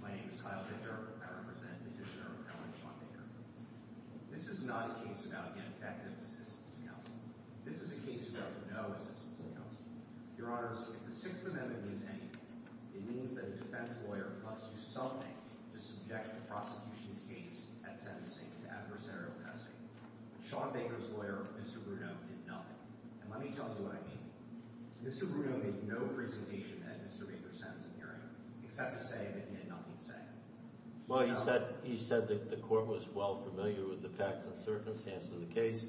My name is Kyle Dicker. I represent the Commissioner of Appellate Sean Baker. This is not a case about ineffective assistance in counsel. This is a case about no assistance in counsel. Your Honors, if the Sixth Amendment means anything, it means that a defense lawyer must do something to subject the prosecution's case at sentencing to adversarial testing. But Sean Baker's lawyer, Mr. Bruneau, did nothing. And let me tell you what I mean. Mr. Bruneau made no presentation at Mr. Baker's sentencing hearing, except to say that he had nothing to say. Well, he said that the court was well familiar with the facts and circumstances of the case,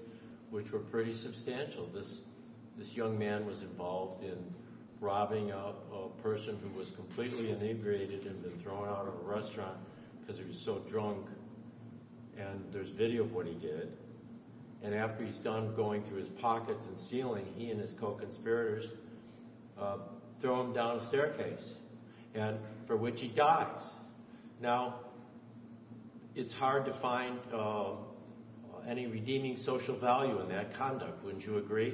which were pretty substantial. This young man was involved in robbing a person who was completely inebriated and had been thrown out of a restaurant because he was so drunk. And there's video of what he did. And after he's done going through his pockets and stealing, he and his co-conspirators throw him down a staircase, for which he dies. Now, it's hard to find any redeeming social value in that conduct, wouldn't you agree?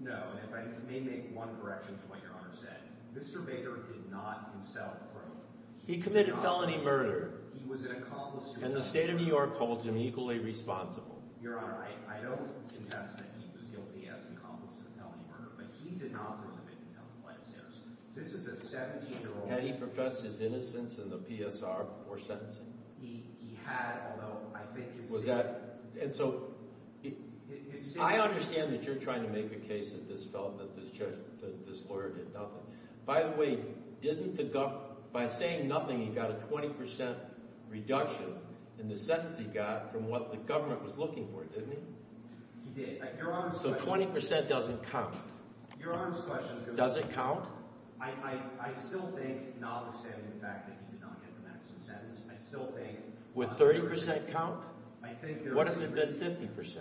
No, and if I may make one correction to what Your Honor said, Mr. Baker did not himself rob. He committed felony murder. And the state of New York holds him equally responsible. Had he professed his innocence in the PSR before sentencing? And so I understand that you're trying to make a case that this lawyer did nothing. By the way, by saying nothing, he got a 20% reduction in the sentence he got from what the government was looking for, didn't he? He did. So 20% doesn't count. Your Honor's question— Does it count? I still think, notwithstanding the fact that he did not get the maximum sentence, I still think— Would 30% count? What if it had been 50%?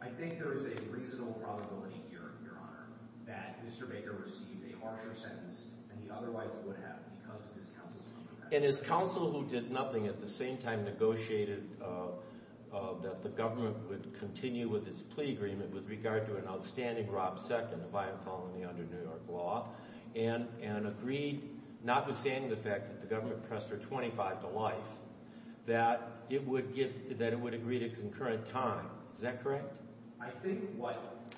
I think there is a reasonable probability here, Your Honor, that Mr. Baker received a harsher sentence than he otherwise would have because of his counsel's conduct. And his counsel, who did nothing, at the same time negotiated that the government would continue with its plea agreement with regard to an outstanding robbed second via felony under New York law, and agreed, notwithstanding the fact that the government pressed her 25 to life, that it would agree to concurrent time. Is that correct? I think what—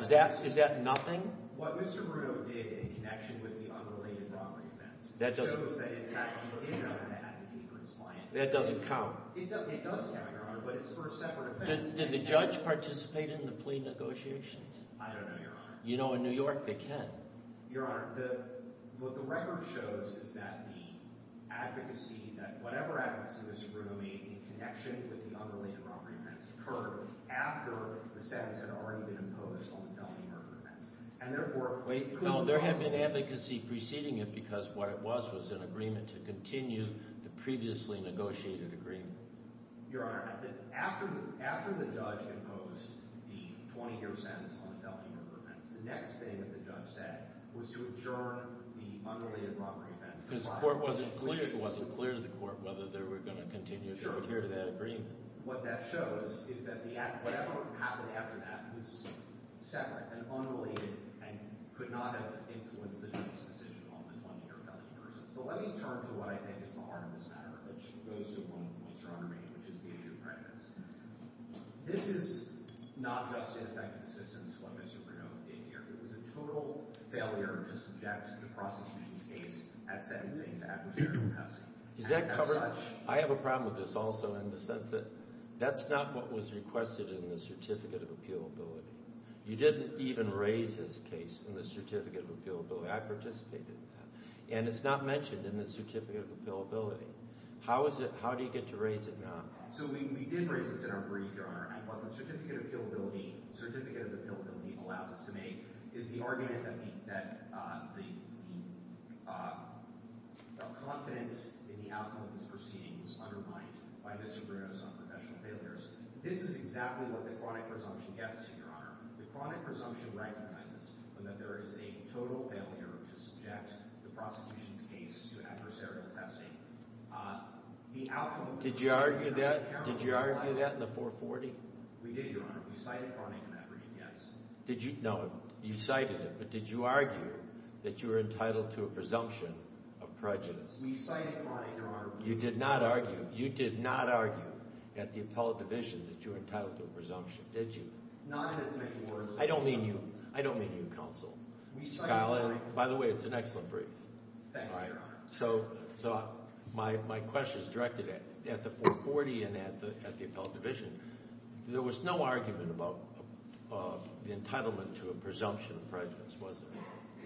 Is that nothing? What Mr. Bruno did in connection with the unrelated robbery events shows that, in fact, he did not have to pay for his client. That doesn't count. It does count, Your Honor, but it's for a separate offense. Did the judge participate in the plea negotiations? I don't know, Your Honor. You know, in New York, they can. Your Honor, what the record shows is that the advocacy, that whatever advocacy Mr. Bruno made in connection with the unrelated robbery events occurred after the sentence had already been imposed on the felony murder offense. And therefore— Wait, no, there had been advocacy preceding it because what it was was an agreement to continue the previously negotiated agreement. Your Honor, after the judge imposed the 20-year sentence on the felony murder offense, the next thing that the judge said was to adjourn the unrelated robbery events. Because the court wasn't clear to the court whether they were going to continue to adhere to that agreement. What that shows is that whatever happened after that was separate and unrelated and could not have influenced the judge's decision on the 20-year felony murder offense. But let me turn to what I think is the heart of this matter, which goes to one point, Your Honor, which is the issue of readiness. This is not just in effect assistance for Mr. Bruno in New York. It was a total failure to subject the prosecution's case at sentencing to adversarial custody. I have a problem with this also in the sense that that's not what was requested in the Certificate of Appealability. You didn't even raise this case in the Certificate of Appealability. I participated in that. And it's not mentioned in the Certificate of Appealability. How do you get to raise it now? So we did raise this in our brief, Your Honor, and what the Certificate of Appealability allows us to make is the argument that the confidence in the outcome of this proceeding was undermined by Mr. Bruno's unprofessional failures. This is exactly what the chronic presumption gets to, Your Honor. The chronic presumption recognizes that there is a total failure to subject the prosecution's case to adversarial testing. The outcome – Did you argue that? Did you argue that in the 440? We did, Your Honor. We cited chronic in that brief, yes. Did you – no, you cited it. But did you argue that you were entitled to a presumption of prejudice? We cited chronic, Your Honor. You did not argue – you did not argue at the appellate division that you were entitled to a presumption, did you? Not in as many words. I don't mean you. I don't mean you, counsel. We cited chronic. Thank you, Your Honor. So my question is directed at the 440 and at the appellate division. There was no argument about the entitlement to a presumption of prejudice, was there?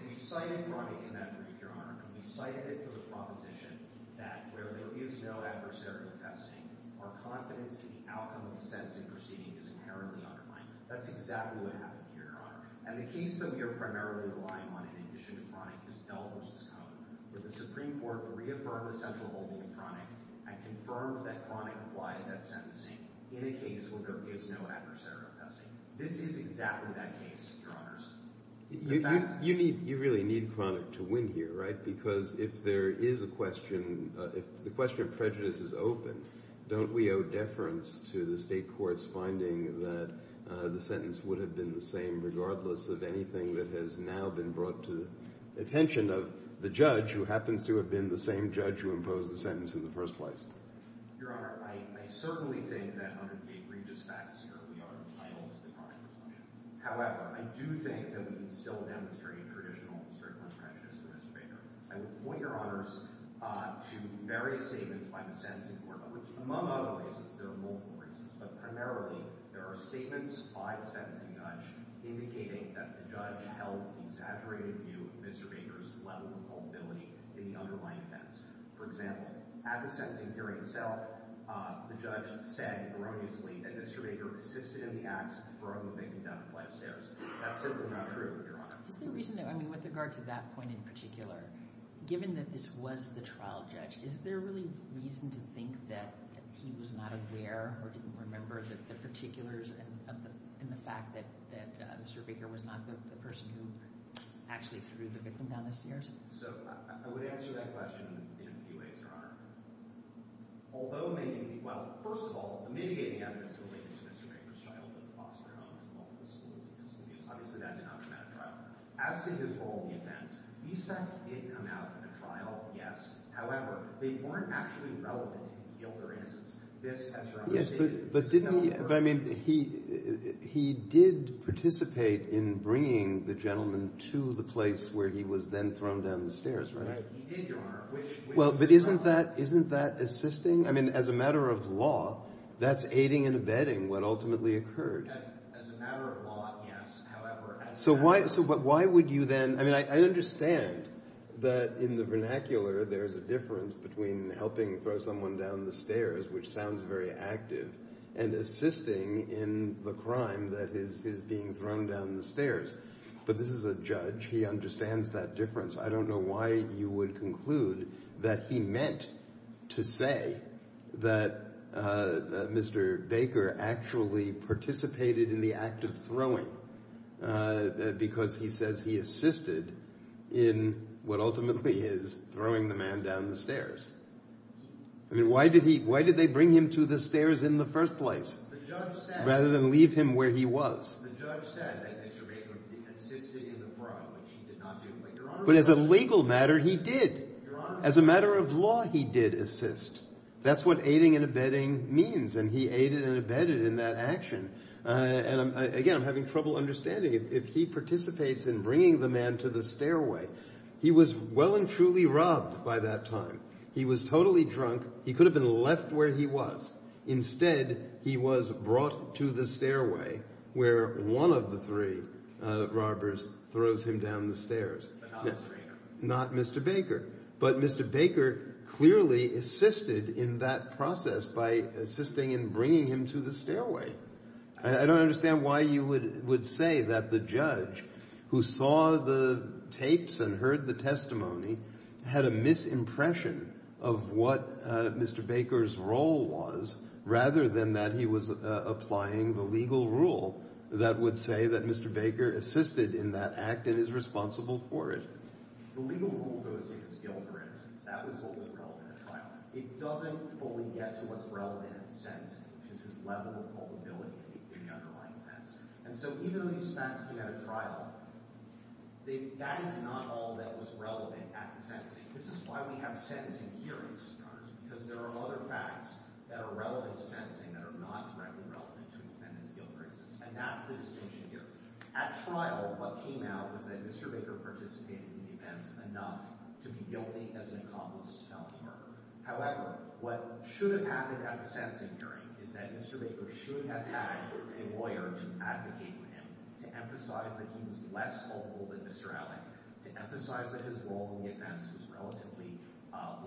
We cited chronic in that brief, Your Honor. We cited it for the proposition that where there is no adversarial testing, our confidence in the outcome of the sentencing proceeding is inherently undermined. And the case that we are primarily relying on in addition to chronic is Bell v. Cohn, where the Supreme Court reaffirmed the central holding of chronic and confirmed that chronic applies at sentencing in a case where there is no adversarial testing. This is exactly that case, Your Honors. You need – you really need chronic to win here, right? Because if there is a question – if the question of prejudice is open, don't we owe deference to the state court's finding that the sentence would have been the same regardless of anything that has now been brought to the attention of the judge who happens to have been the same judge who imposed the sentence in the first place? Your Honor, I certainly think that under the egregious facts here we are entitled to the chronic presumption. However, I do think that we can still demonstrate traditional circumstances for Mr. Baker. I would point, Your Honors, to various statements by the sentencing court, which among other reasons – there are multiple reasons – but primarily there are statements by the sentencing judge indicating that the judge held the exaggerated view of Mr. Baker's level of culpability in the underlying defense. For example, at the sentencing hearing itself, the judge said erroneously that Mr. Baker assisted in the act of throwing the victim down the flight of stairs. That's simply not true, Your Honor. Is there a reason – I mean, with regard to that point in particular, given that this was the trial judge, is there really reason to think that he was not aware or didn't remember that the particulars and the fact that Mr. Baker was not the person who actually threw the victim down the stairs? So I would answer that question in a few ways, Your Honor. Although maybe – well, first of all, the mitigating evidence related to Mr. Baker's childhood, foster homes, and all of his schools, obviously that did not come out of trial. As to his role in the offense, these facts did come out of a trial, yes. However, they weren't actually relevant to his guilt or innocence. Yes, but didn't he – but, I mean, he did participate in bringing the gentleman to the place where he was then thrown down the stairs, right? Right. He did, Your Honor. Well, but isn't that – isn't that assisting? I mean, as a matter of law, that's aiding and abetting what ultimately occurred. As a matter of law, yes. So why would you then – I mean, I understand that in the vernacular there's a difference between helping throw someone down the stairs, which sounds very active, and assisting in the crime that is being thrown down the stairs. But this is a judge. He understands that difference. I don't know why you would conclude that he meant to say that Mr. Baker actually participated in the act of throwing because he says he assisted in what ultimately is throwing the man down the stairs. I mean, why did he – why did they bring him to the stairs in the first place rather than leave him where he was? The judge said that Mr. Baker assisted in the fraud, which he did not do. But as a legal matter, he did. As a matter of law, he did assist. That's what aiding and abetting means, and he aided and abetted in that action. And again, I'm having trouble understanding. If he participates in bringing the man to the stairway, he was well and truly robbed by that time. He was totally drunk. He could have been left where he was. Instead, he was brought to the stairway where one of the three robbers throws him down the stairs. Not Mr. Baker. But Mr. Baker clearly assisted in that process by assisting in bringing him to the stairway. I don't understand why you would say that the judge who saw the tapes and heard the testimony had a misimpression of what Mr. Baker's role was rather than that he was applying the legal rule that would say that Mr. Baker assisted in that act and is responsible for it. The legal rule goes to his guilt, for instance. That was always relevant at trial. It doesn't fully get to what's relevant at sentencing, which is his level of culpability in the underlying offense. And so even though these facts came out at trial, that is not all that was relevant at the sentencing. This is why we have sentencing hearings, Your Honors, because there are other facts that are relevant to sentencing that are not directly relevant to an independent's guilt, for instance. And that's the distinction here. At trial, what came out was that Mr. Baker participated in the offense enough to be guilty as an accomplice to felony murder. However, what should have happened at the sentencing hearing is that Mr. Baker should have had a lawyer to advocate with him, to emphasize that he was less culpable than Mr. Alley, to emphasize that his role in the offense was relatively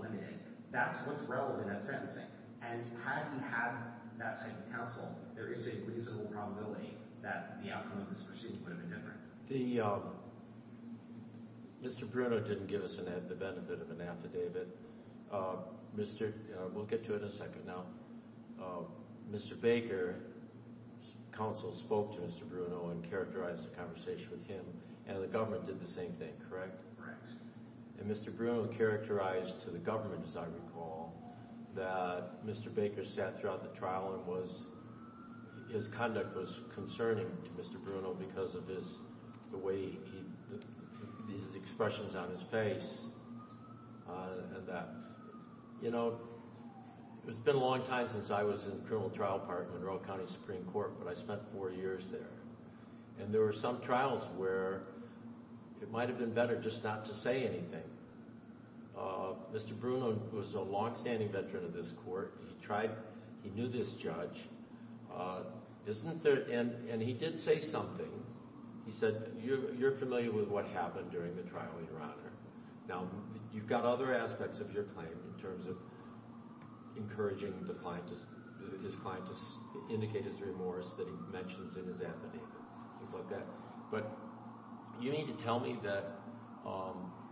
limited. That's what's relevant at sentencing. And had he had that same counsel, there is a reasonable probability that the outcome of this proceeding would have been different. The – Mr. Bruno didn't give us the benefit of an affidavit. Mr. – we'll get to it in a second. Now, Mr. Baker's counsel spoke to Mr. Bruno and characterized the conversation with him, and the government did the same thing, correct? Correct. And Mr. Bruno characterized to the government, as I recall, that Mr. Baker sat throughout the trial and was – his conduct was concerning to Mr. Bruno because of his – the way he – these expressions on his face. And that – you know, it's been a long time since I was in criminal trial court in Monroe County Supreme Court, but I spent four years there. And there were some trials where it might have been better just not to say anything. Mr. Bruno was a longstanding veteran of this court. He tried – he knew this judge. Isn't there – and he did say something. He said, you're familiar with what happened during the trial, Your Honor. Now, you've got other aspects of your claim in terms of encouraging the client to – his client to indicate his remorse that he mentions in his affidavit, things like that. But you need to tell me that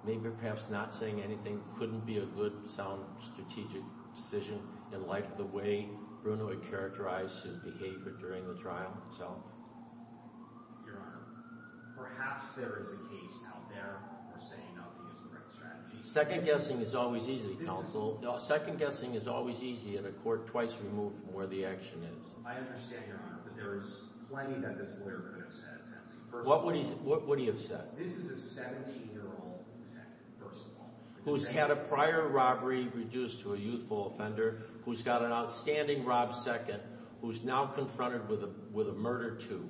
maybe or perhaps not saying anything couldn't be a good, sound, strategic decision in light of the way Bruno had characterized his behavior during the trial itself. Your Honor, perhaps there is a case out there where saying nothing is the right strategy. Second-guessing is always easy, counsel. Second-guessing is always easy in a court twice removed from where the action is. I understand, Your Honor, but there is plenty that this lawyer could have said. What would he have said? This is a 17-year-old detective, first of all. Who's had a prior robbery reduced to a youthful offender, who's got an outstanding rob second, who's now confronted with a murder two,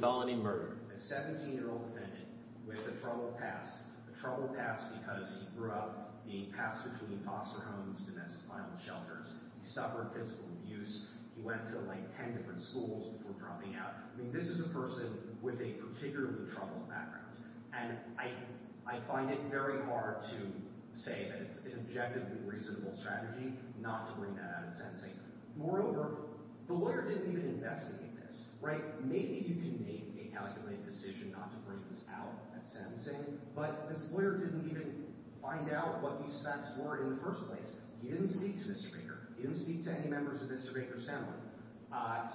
felony murder. A 17-year-old defendant with a troubled past, a troubled past because he grew up being passed between foster homes and as a final shelter. He suffered physical abuse. He went to like 10 different schools before dropping out. I mean this is a person with a particularly troubled background. And I find it very hard to say that it's an objectively reasonable strategy not to bring that out at sentencing. Moreover, the lawyer didn't even investigate this, right? Maybe you can make a calculated decision not to bring this out at sentencing, but this lawyer didn't even find out what these facts were in the first place. He didn't speak to Mr. Baker. He didn't speak to any members of Mr. Baker's family.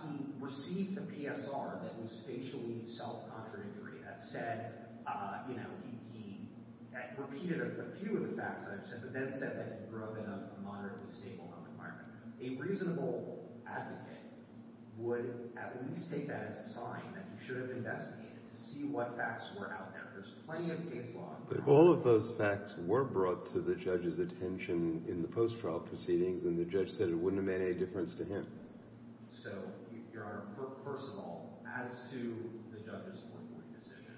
He received a PSR that was facially self-contradictory. That said, you know, he repeated a few of the facts that I've said, but then said that he grew up in a moderately stable home environment. A reasonable advocate would at least take that as a sign that he should have investigated to see what facts were out there. There's plenty of case law. But if all of those facts were brought to the judge's attention in the post-trial proceedings, then the judge said it wouldn't have made any difference to him. So, Your Honor, first of all, as to the judge's political decision,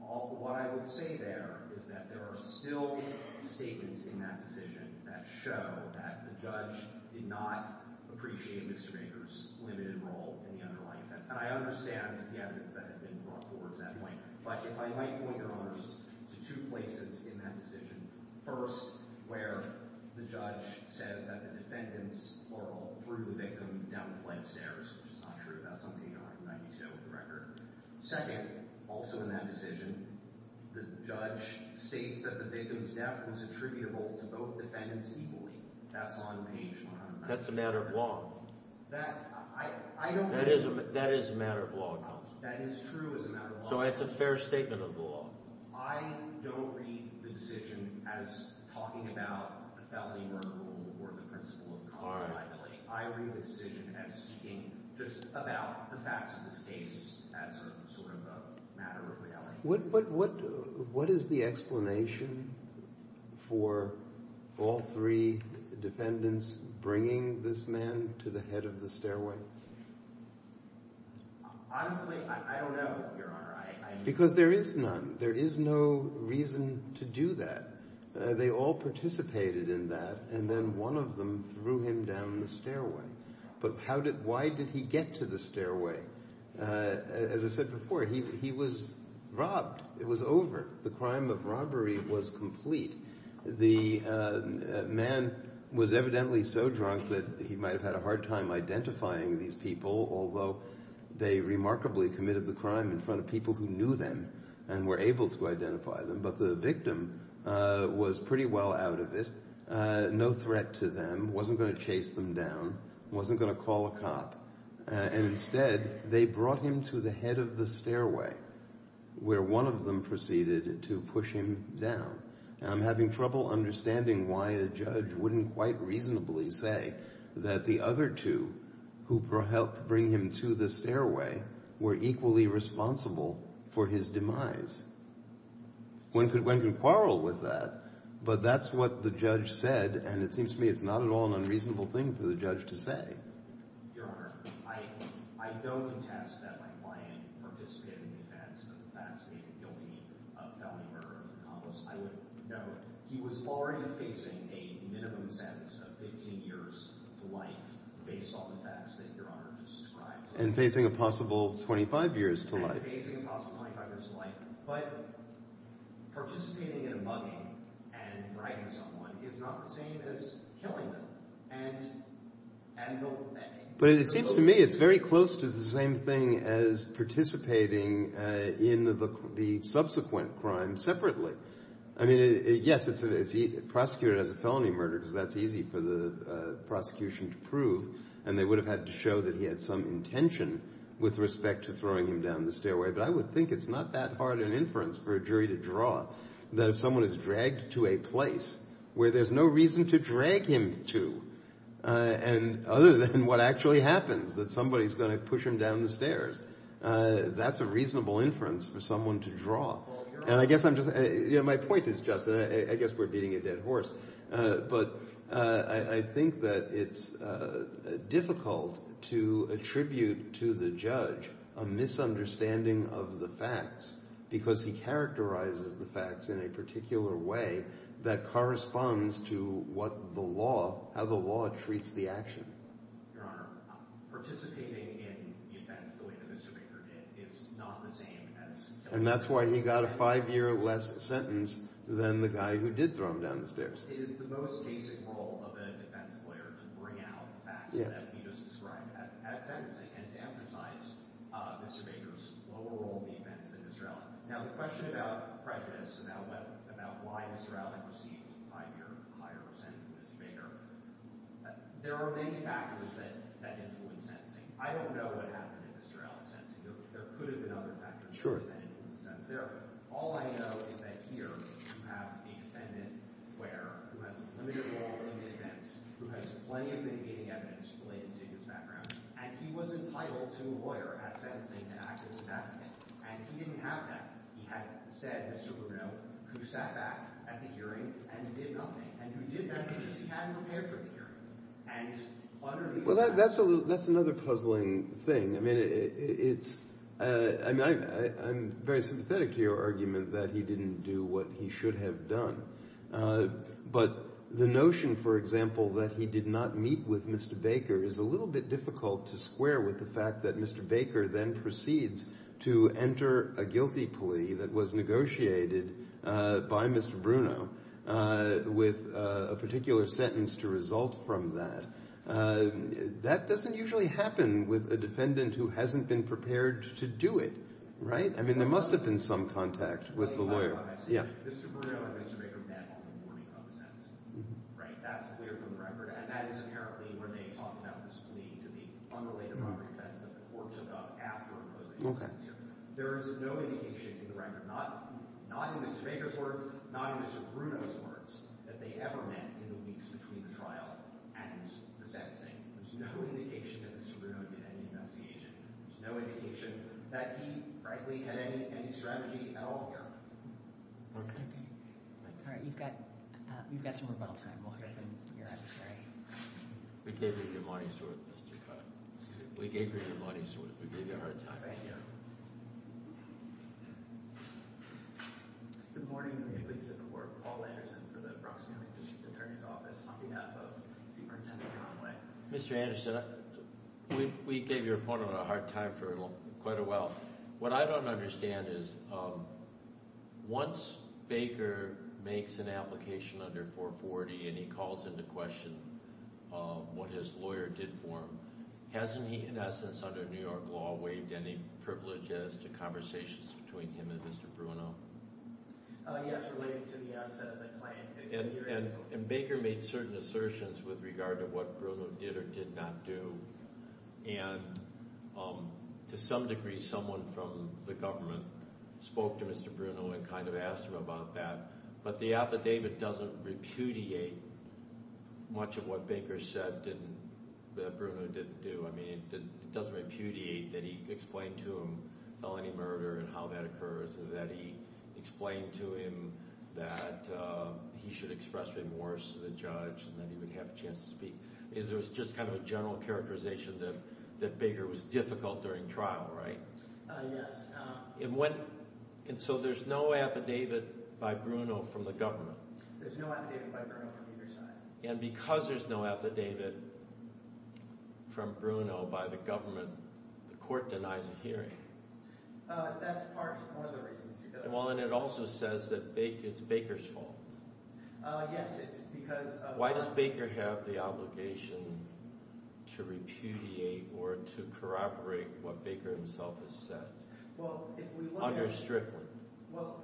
what I would say there is that there are still statements in that decision that show that the judge did not appreciate Mr. Baker's limited role in the underlying case. And I understand the evidence that had been brought forward at that point. But if I might point, Your Honor, to two places in that decision. First, where the judge says that the defendants were all cruelly victimed down the flight of stairs, which is not true. That's on page 192 of the record. Second, also in that decision, the judge states that the victim's death was attributable to both defendants equally. That's on page 190. That's a matter of law. That is a matter of law. That is true as a matter of law. So it's a fair statement of the law. I don't read the decision as talking about the felony murder rule or the principle of constituting. I read the decision as speaking just about the facts of this case as sort of a matter of reality. What is the explanation for all three defendants bringing this man to the head of the stairway? Honestly, I don't know, Your Honor. Because there is none. There is no reason to do that. They all participated in that, and then one of them threw him down the stairway. But why did he get to the stairway? As I said before, he was robbed. It was over. The crime of robbery was complete. The man was evidently so drunk that he might have had a hard time identifying these people, although they remarkably committed the crime in front of people who knew them and were able to identify them. But the victim was pretty well out of it, no threat to them, wasn't going to chase them down, wasn't going to call a cop. And instead, they brought him to the head of the stairway where one of them proceeded to push him down. And I'm having trouble understanding why a judge wouldn't quite reasonably say that the other two who helped bring him to the stairway were equally responsible for his demise. One could quarrel with that, but that's what the judge said, and it seems to me it's not at all an unreasonable thing for the judge to say. Your Honor, I don't attest that my client participated in the events of the facts-making guilty of felony murder. I would note he was already facing a minimum sentence of 15 years to life based on the facts that Your Honor just described. And facing a possible 25 years to life. And facing a possible 25 years to life. But participating in a mugging and driving someone is not the same as killing them. But it seems to me it's very close to the same thing as participating in the subsequent crime separately. I mean, yes, it's prosecuted as a felony murder because that's easy for the prosecution to prove, and they would have had to show that he had some intention with respect to throwing him down the stairway. But I would think it's not that hard an inference for a jury to draw that if someone is dragged to a place where there's no reason to drag him to, and other than what actually happens, that somebody's going to push him down the stairs, that's a reasonable inference for someone to draw. And I guess I'm just – my point is just – I guess we're beating a dead horse. But I think that it's difficult to attribute to the judge a misunderstanding of the facts because he characterizes the facts in a particular way that corresponds to what the law – how the law treats the action. Your Honor, participating in the events the way that Mr. Baker did is not the same as – And that's why he got a five-year less sentence than the guy who did throw him down the stairs. It is the most basic role of a defense lawyer to bring out facts that we just described. And to emphasize Mr. Baker's lower role in the events than Mr. Allen. Now, the question about prejudice, about why Mr. Allen received a five-year higher sentence than Mr. Baker, there are many factors that influence sentencing. I don't know what happened in Mr. Allen's sentencing. There could have been other factors. All I know is that here you have a defendant who has limited role in the events, who has plenty of mitigating evidence related to his background, and he was entitled to a lawyer at sentencing to act as his advocate. And he didn't have that. He had said, Mr. Rubino, who sat back at the hearing and did nothing. And who did that because he hadn't prepared for the hearing. And what are these factors? Well, that's another puzzling thing. I mean it's – I'm very sympathetic to your argument that he didn't do what he should have done. But the notion, for example, that he did not meet with Mr. Baker is a little bit difficult to square with the fact that Mr. Baker then proceeds to enter a guilty plea that was negotiated by Mr. Bruno with a particular sentence to result from that. That doesn't usually happen with a defendant who hasn't been prepared to do it. Right? I mean there must have been some contact with the lawyer. Yeah. Mr. Bruno and Mr. Baker met on the morning of the sentencing. Right? That's clear from the record, and that is apparently when they talked about this plea to the unrelated property defense that the court took up after imposing the sentencing. There is no indication in the record, not in Mr. Baker's words, not in Mr. Bruno's words, that they ever met in the weeks between the trial and the sentencing. There's no indication that Mr. Bruno did any investigation. There's no indication that he, frankly, had any strategy at all. No. Okay. All right. You've got some rebuttal time. We'll hear from your adversary. We gave you your money's worth, Mr. Cutt. We gave you your money's worth. We gave you a hard time. Thank you. Good morning. I'm going to release the court. Paul Anderson for the Bronx County District Attorney's Office on behalf of Superintendent Conway. Mr. Anderson, we gave your opponent a hard time for quite a while. What I don't understand is once Baker makes an application under 440 and he calls into question what his lawyer did for him, hasn't he, in essence, under New York law, waived any privileges to conversations between him and Mr. Bruno? Yes, relating to the outset of the claim. And Baker made certain assertions with regard to what Bruno did or did not do, and to some degree someone from the government spoke to Mr. Bruno and kind of asked him about that, but the affidavit doesn't repudiate much of what Baker said that Bruno didn't do. I mean it doesn't repudiate that he explained to him felony murder and how that occurs or that he explained to him that he should express remorse to the judge and that he would have a chance to speak. There was just kind of a general characterization that Baker was difficult during trial, right? Yes. And so there's no affidavit by Bruno from the government? There's no affidavit by Bruno from either side. And because there's no affidavit from Bruno by the government, the court denies a hearing? That's part of one of the reasons. Well, and it also says that it's Baker's fault. Yes, it's because – Why does Baker have the obligation to repudiate or to corroborate what Baker himself has said? Well, if we look at – Under Strickland. Well,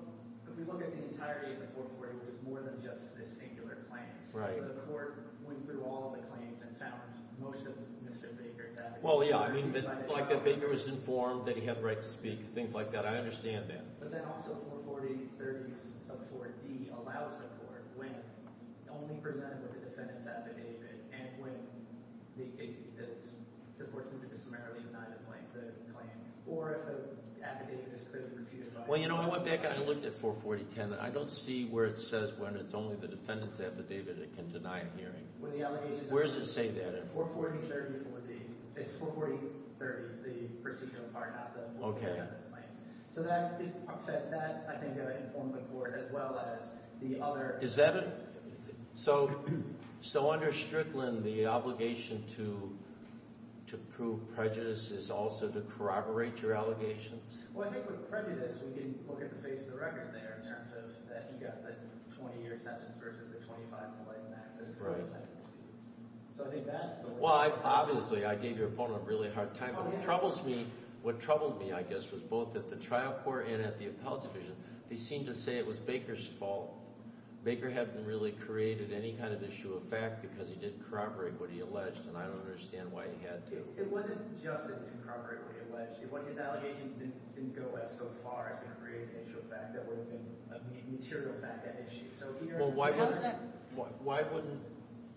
if we look at the entirety of the court's record, it's more than just this singular claim. Right. The court went through all the claims and found most of Mr. Baker's affidavit. Well, yeah, I mean like that Baker was informed that he had the right to speak, things like that. I understand that. But then also 440.30 sub 4D allows the court when only presented with the defendant's affidavit and when the court can just summarily deny the claim. Or if the affidavit is clearly repudiated. Well, you know, I went back and I looked at 440.10. I don't see where it says when it's only the defendant's affidavit it can deny a hearing. Where does it say that? 440.30 would be – it's 440.30, the procedural part, not the plaintiff's claim. Okay. So that, I think, informed the court as well as the other – Is that a – so under Strickland the obligation to prove prejudice is also to corroborate your allegations? Well, I think with prejudice we can look at the face of the record there in terms of that he got the 20-year sentence versus the 25-year sentence. Right. So I think that's the – Well, obviously I gave your opponent a really hard time, but what troubles me – what troubled me, I guess, was both at the trial court and at the appellate division. They seemed to say it was Baker's fault. Baker hadn't really created any kind of issue of fact because he didn't corroborate what he alleged, and I don't understand why he had to. It wasn't just that he didn't corroborate what he alleged. If what his allegations didn't go so far as to create an issue of fact, that would have been a material fact, that issue. Well, why wouldn't – How is that –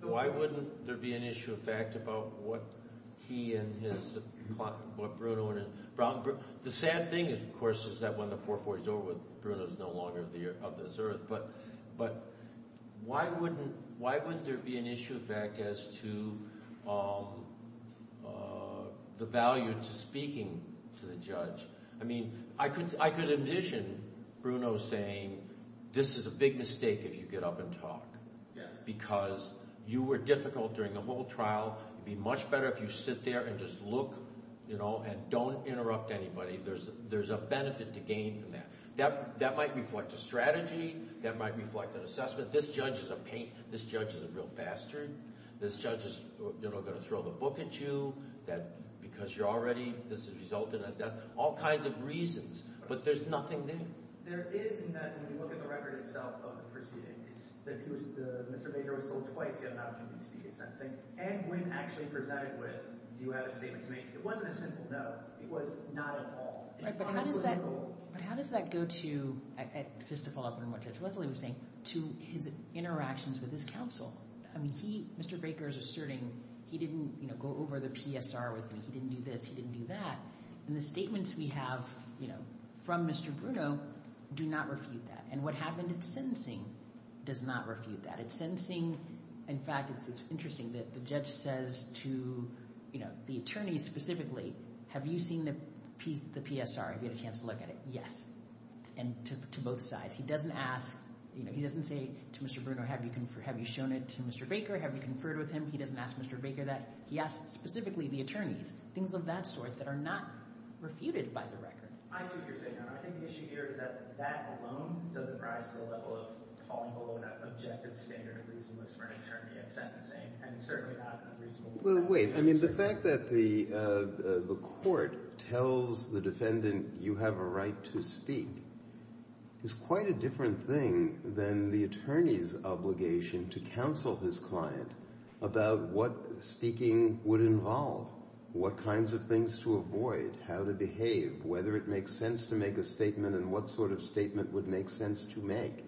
Why wouldn't there be an issue of fact about what he and his – what Bruno and – The sad thing, of course, is that when the 440 is over, Bruno is no longer of this earth, but why wouldn't there be an issue of fact as to the value to speaking to the judge? I mean, I could envision Bruno saying, this is a big mistake if you get up and talk. Yes. Because you were difficult during the whole trial. It would be much better if you sit there and just look and don't interrupt anybody. There's a benefit to gain from that. That might reflect a strategy. That might reflect an assessment. This judge is a pain. This judge is a real bastard. This judge is going to throw the book at you because you're already – I've got all kinds of reasons, but there's nothing there. There is in that when you look at the record itself of the proceedings, that Mr. Baker was told twice he had not a duty to speak at sentencing, and when actually presided with, you had a statement to make. It wasn't a simple no. It was not at all. Right, but how does that go to – just to follow up on what Judge Wesley was saying – to his interactions with his counsel? I mean, he – Mr. Baker is asserting he didn't go over the PSR with me. He didn't do this. He didn't do that. And the statements we have from Mr. Bruno do not refute that. And what happened at sentencing does not refute that. At sentencing, in fact, it's interesting that the judge says to the attorney specifically, have you seen the PSR? Have you had a chance to look at it? Yes, and to both sides. He doesn't ask – he doesn't say to Mr. Bruno, have you shown it to Mr. Baker? Have you conferred with him? He doesn't ask Mr. Baker that. He asks specifically the attorneys, things of that sort that are not refuted by the record. I see what you're saying. I think the issue here is that that alone doesn't rise to the level of falling below that objective standard of reasonableness for an attorney at sentencing and certainly not in a reasonable way. Well, wait. I mean, the fact that the court tells the defendant you have a right to speak is quite a different thing than the attorney's obligation to counsel his client about what speaking would involve, what kinds of things to avoid, how to behave, whether it makes sense to make a statement and what sort of statement would make sense to make.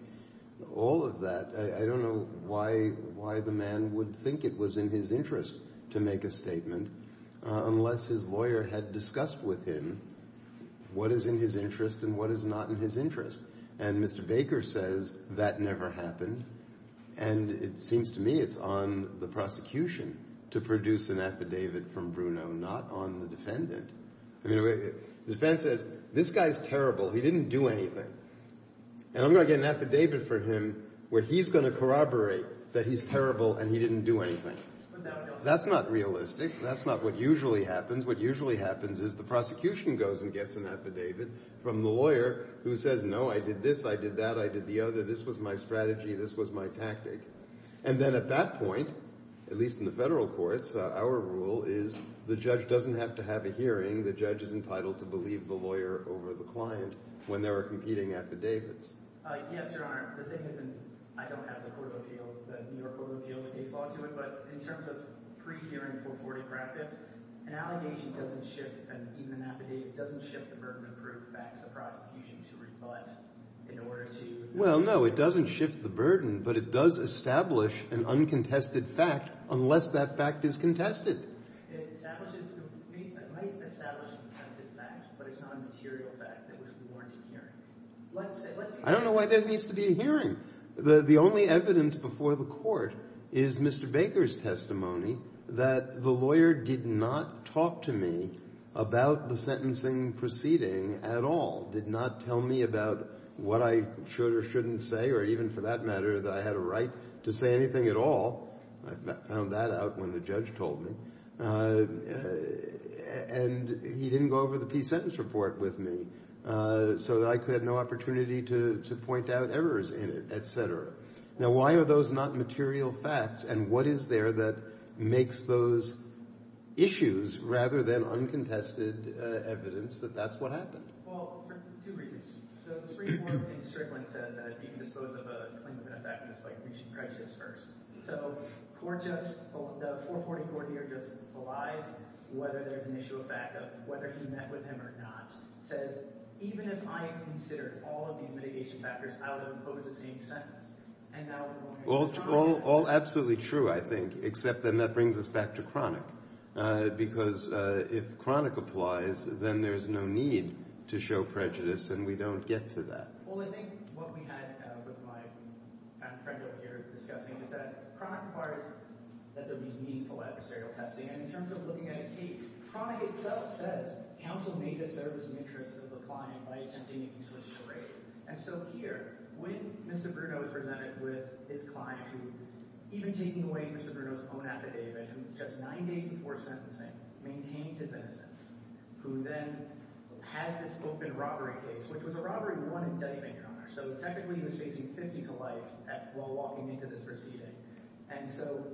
All of that, I don't know why the man would think it was in his interest to make a statement unless his lawyer had discussed with him what is in his interest and what is not in his interest. And Mr. Baker says that never happened. And it seems to me it's on the prosecution to produce an affidavit from Bruno, not on the defendant. The defense says this guy's terrible. He didn't do anything. And I'm going to get an affidavit from him where he's going to corroborate that he's terrible and he didn't do anything. That's not realistic. That's not what usually happens. What usually happens is the prosecution goes and gets an affidavit from the lawyer who says, no, I did this, I did that, I did the other, this was my strategy, this was my tactic. And then at that point, at least in the federal courts, our rule is the judge doesn't have to have a hearing. The judge is entitled to believe the lawyer over the client when they're competing affidavits. Yes, Your Honor. The thing is, and I don't have the New York Court of Appeals case law to it, but in terms of pre-hearing 440 practice, an allegation doesn't shift, and even an affidavit doesn't shift the burden of proof back to the prosecution to rebut in order to. Well, no, it doesn't shift the burden, but it does establish an uncontested fact unless that fact is contested. It might establish a contested fact, but it's not a material fact that was warranted hearing. I don't know why there needs to be a hearing. The only evidence before the court is Mr. Baker's testimony that the lawyer did not talk to me about the sentencing proceeding at all, did not tell me about what I should or shouldn't say, or even for that matter that I had a right to say anything at all. I found that out when the judge told me. And he didn't go over the peace sentence report with me, so I had no opportunity to point out errors in it, et cetera. Now, why are those not material facts, and what is there that makes those issues rather than uncontested evidence that that's what happened? Well, for two reasons. So the Supreme Court in Strickland said that you can dispose of a claimant in a fact just by reaching prejudice first. So the 440 court here just belies whether there's an issue of fact of whether he met with him or not. It says, even if I consider all of these mitigation factors, I would impose the same sentence. And now the lawyer is trying to— All absolutely true, I think, except then that brings us back to chronic, because if chronic applies, then there's no need to show prejudice, and we don't get to that. Well, I think what we had with my friend over here discussing is that chronic requires that there be meaningful adversarial testing. And in terms of looking at a case, chronic itself says counsel may disturb the interests of the client by attempting a useless charade. And so here, when Mr. Bruno is presented with his client who, even taking away Mr. Bruno's own affidavit, who just nine days before sentencing maintained his innocence, who then has this open robbery case, which was a robbery one indictment, so technically he was facing 50 to life while walking into this proceeding. And so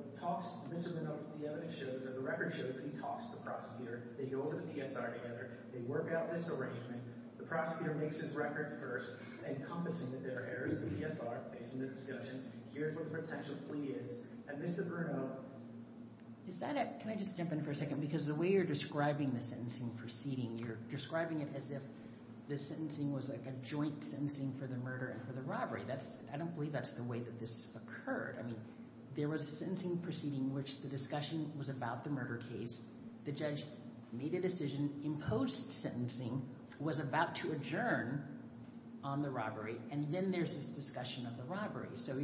Mr. Bruno, the evidence shows or the record shows that he talks to the prosecutor. They go over the PSR together. They work out this arrangement. The prosecutor makes his record first, encompassing the errors of the PSR, facing the discussions. Here's where the potential plea is. And Mr. Bruno— Can I just jump in for a second? Because the way you're describing the sentencing proceeding, you're describing it as if the sentencing was like a joint sentencing for the murder and for the robbery. I don't believe that's the way that this occurred. I mean, there was a sentencing proceeding in which the discussion was about the murder case. The judge made a decision, imposed sentencing, was about to adjourn on the robbery, and then there's this discussion of the robbery. So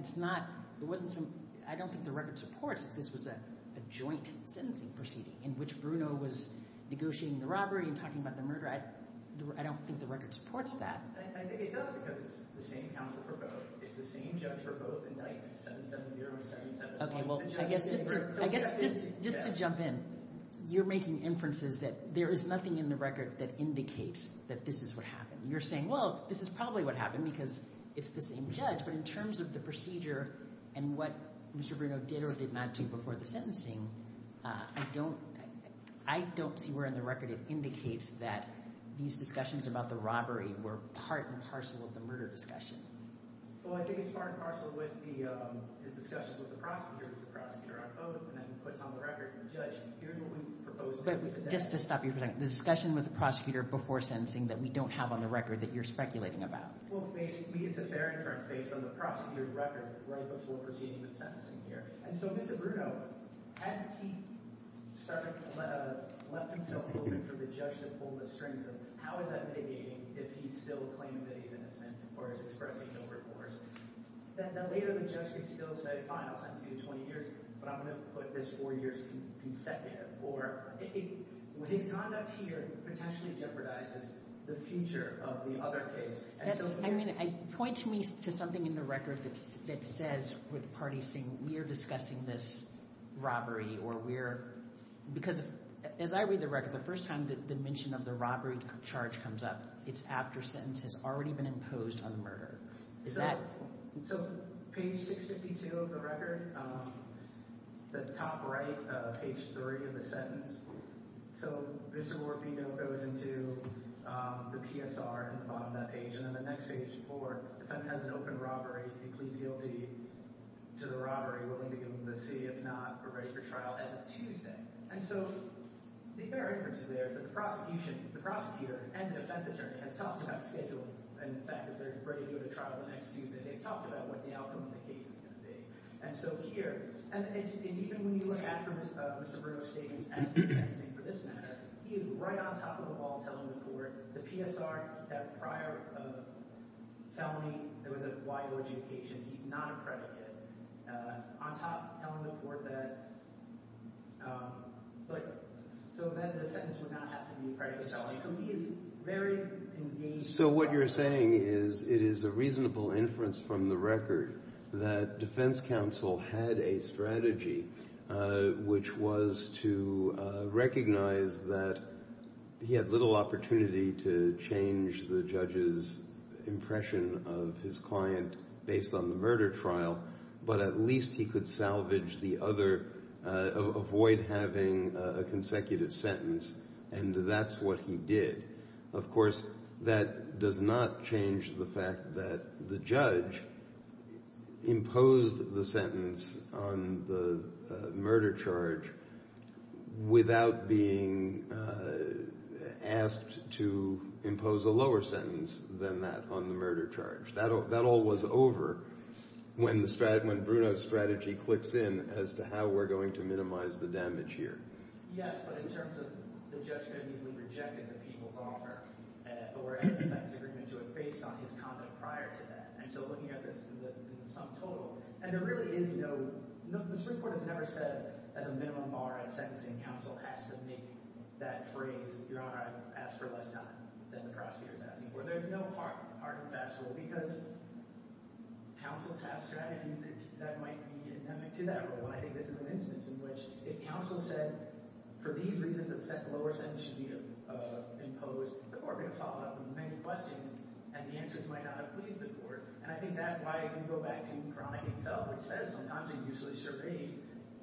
it's not—I don't think the record supports that this was a joint sentencing proceeding in which Bruno was negotiating the robbery and talking about the murder. I don't think the record supports that. I think it does because it's the same counsel for both. It's the same judge for both indictments, 770 and 771. Okay, well, I guess just to jump in, you're making inferences that there is nothing in the record that indicates that this is what happened. You're saying, well, this is probably what happened because it's the same judge. But in terms of the procedure and what Mr. Bruno did or did not do before the sentencing, I don't—I don't see where in the record it indicates that these discussions about the robbery were part and parcel of the murder discussion. Well, I think it's part and parcel with the discussions with the prosecutor, with the prosecutor on oath, and then puts on the record that the judge— But just to stop you for a second, the discussion with the prosecutor before sentencing that we don't have on the record that you're speculating about. Well, basically, it's a fair inference based on the prosecutor's record right before proceeding with sentencing here. And so Mr. Bruno, hadn't he started—left himself open for the judge to pull the strings of how is that mitigating if he's still claiming that he's innocent or is expressing no recourse? Then later the judge could still say, fine, I'll sentence you to 20 years, but I'm going to put this four years consecutive. Or his conduct here potentially jeopardizes the future of the other case. That's—I mean, point to me to something in the record that says—where the party's saying, we're discussing this robbery or we're—because as I read the record, the first time the mention of the robbery charge comes up, it's after sentence has already been imposed on the murderer. Is that— So page 652 of the record, the top right of page 3 of the sentence. So Mr. Morfino goes into the PSR at the bottom of that page. And then the next page, four, the defendant has an open robbery. He pleads guilty to the robbery, willing to give him the C. If not, we're ready for trial as of Tuesday. And so the bare inference there is that the prosecution—the prosecutor and the defense attorney has talked about scheduling and the fact that they're ready to go to trial the next Tuesday. They've talked about what the outcome of the case is going to be. And so here—and even when you look at Mr. Bruno's statements as to the sentencing for this matter, he is right on top of the ball telling the court, the PSR, that prior to the felony, there was a wide logic occasion. He's not a predicate. On top, telling the court that—so then the sentence would not have to be a predicate felony. So he is very engaged— So what you're saying is it is a reasonable inference from the record that defense counsel had a strategy, which was to recognize that he had little opportunity to change the judge's impression of his client based on the murder trial, but at least he could salvage the other—avoid having a consecutive sentence. And that's what he did. Of course, that does not change the fact that the judge imposed the sentence on the murder charge without being asked to impose a lower sentence than that on the murder charge. That all was over when Bruno's strategy clicks in as to how we're going to minimize the damage here. Yes, but in terms of the judge could have easily rejected the people's offer or a defense agreement based on his conduct prior to that. And so looking at this in the sum total—and there really is no—this report has never said, as a minimum bar, a sentencing counsel has to make that phrase, Your Honor, I've asked for less time than the prosecutor is asking for. So there's no hard and fast rule, because counsels have strategies that might be endemic to that rule. And I think this is an instance in which if counsel said, for these reasons, a lower sentence should be imposed, the court would have followed up with many questions, and the answers might not have pleased the court. And I think that's why you go back to Cronick and Tell, which says, I'm not usually sure a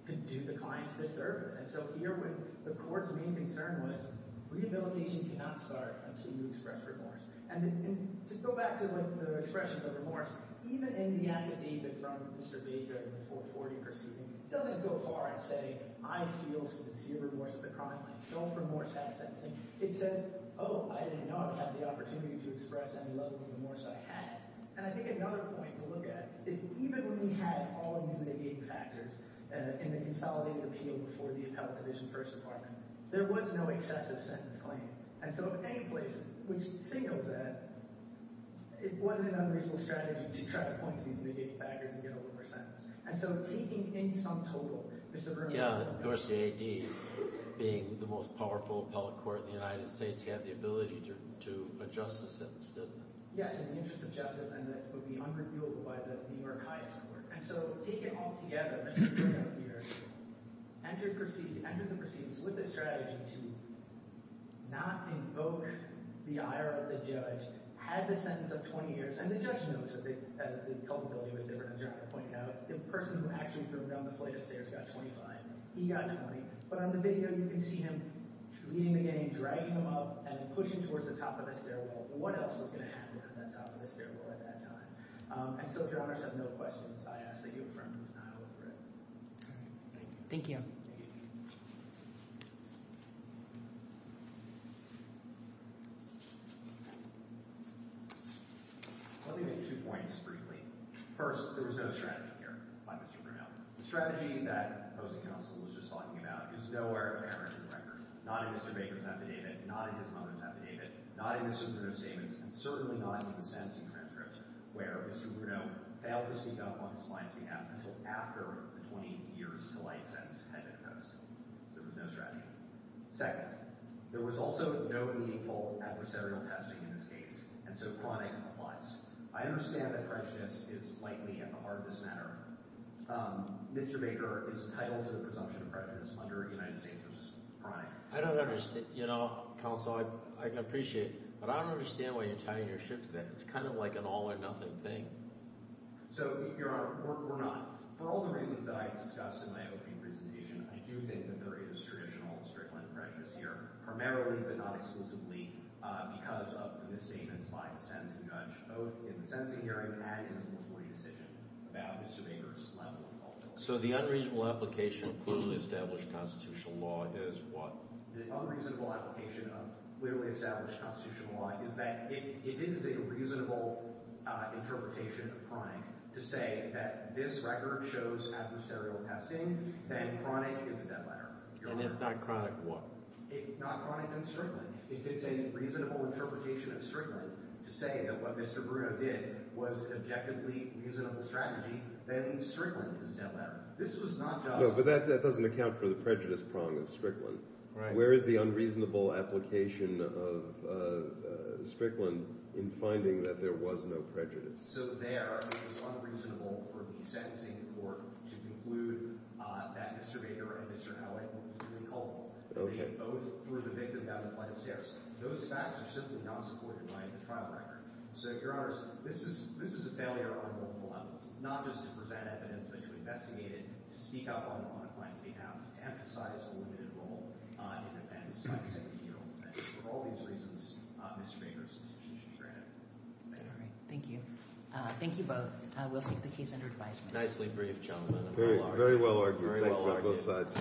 can do the client a disservice. And so here, the court's main concern was, rehabilitation cannot start until you express remorse. And to go back to the expressions of remorse, even in the act of David from Mr. Baker in the 440 proceeding, it doesn't go far as saying, I feel sincere remorse at the crime line. Don't remorse that sentencing. It says, oh, I did not have the opportunity to express any level of remorse I had. And I think another point to look at is, even when we had all of these negating factors in the consolidated appeal before the appellate division first department, there was no excessive sentence claim. And so in any place, which Singo's at, it wasn't an unreasonable strategy to try to point to these negating factors and get a lower sentence. And so taking in some total, Mr. Berman. Yeah, of course, the AD, being the most powerful appellate court in the United States, had the ability to adjust the sentence, didn't it? Yes, in the interest of justice. And this would be unreviewable by the New York highest court. And so take it all together, Mr. Berman here, entered the proceedings with the strategy to not invoke the ire of the judge, had the sentence of 20 years. And the judge knows that the culpability was different, as you're about to point out. The person who actually threw down the flight of stairs got 25. He got 20. But on the video, you can see him leading the game, dragging him up, and pushing towards the top of the stairwell. What else was going to happen at the top of the stairwell at that time? And so if your honors have no questions, I ask that you affirm the denial of the writ. All right. Thank you. Thank you. Thank you. Let me make two points, briefly. First, there was no strategy here by Mr. Berman. Now, the strategy that opposing counsel was just talking about is nowhere apparent in the record, not in Mr. Baker's affidavit, not in his mother's affidavit, not in Mr. Bruno's statements, and certainly not in the sentencing transcript, where Mr. Bruno failed to speak up on his client's behalf until after the 20 years to life sentence had been imposed. So there was no strategy. Second, there was also no meaningful adversarial testing in this case, and so chronic was. I understand that prejudice is likely at the heart of this matter. Mr. Baker is entitled to the presumption of prejudice under United States versus Prime. I don't understand. You know, counsel, I appreciate it, but I don't understand why you're tying your shift to that. It's kind of like an all-or-nothing thing. So, your honor, we're not. For all the reasons that I discussed in my opening presentation, I do think that there is traditional and strickling prejudice here, primarily but not exclusively, because of the statements by the sentencing judge, both in the sentencing hearing and in the jury decision about Mr. Baker's level of involvement. So the unreasonable application of clearly established constitutional law is what? The unreasonable application of clearly established constitutional law is that it is a reasonable interpretation of chronic to say that this record shows adversarial testing, that chronic is a dead letter. And if not chronic, what? If not chronic, then strickling. If it's a reasonable interpretation of strickling to say that what Mr. Bruno did was an objectively reasonable strategy, then strickling is a dead letter. This was not just— No, but that doesn't account for the prejudice prong of strickling. Where is the unreasonable application of strickling in finding that there was no prejudice? So there, it was unreasonable for the sentencing court to conclude that Mr. Baker and Mr. Howitt were equally culpable. They both threw the victim down the flight of stairs. Those facts are simply not supported by the trial record. So, Your Honors, this is a failure on both levels, not just to present evidence that you investigated, to speak up on the client's behalf, to emphasize a limited role in events like the sentencing hearing. For all these reasons, Mr. Baker's position should be granted. All right. Thank you. Thank you both. We'll take the case under advisement. Nicely briefed, gentlemen. Very well argued. Very well argued. Thank you on both sides.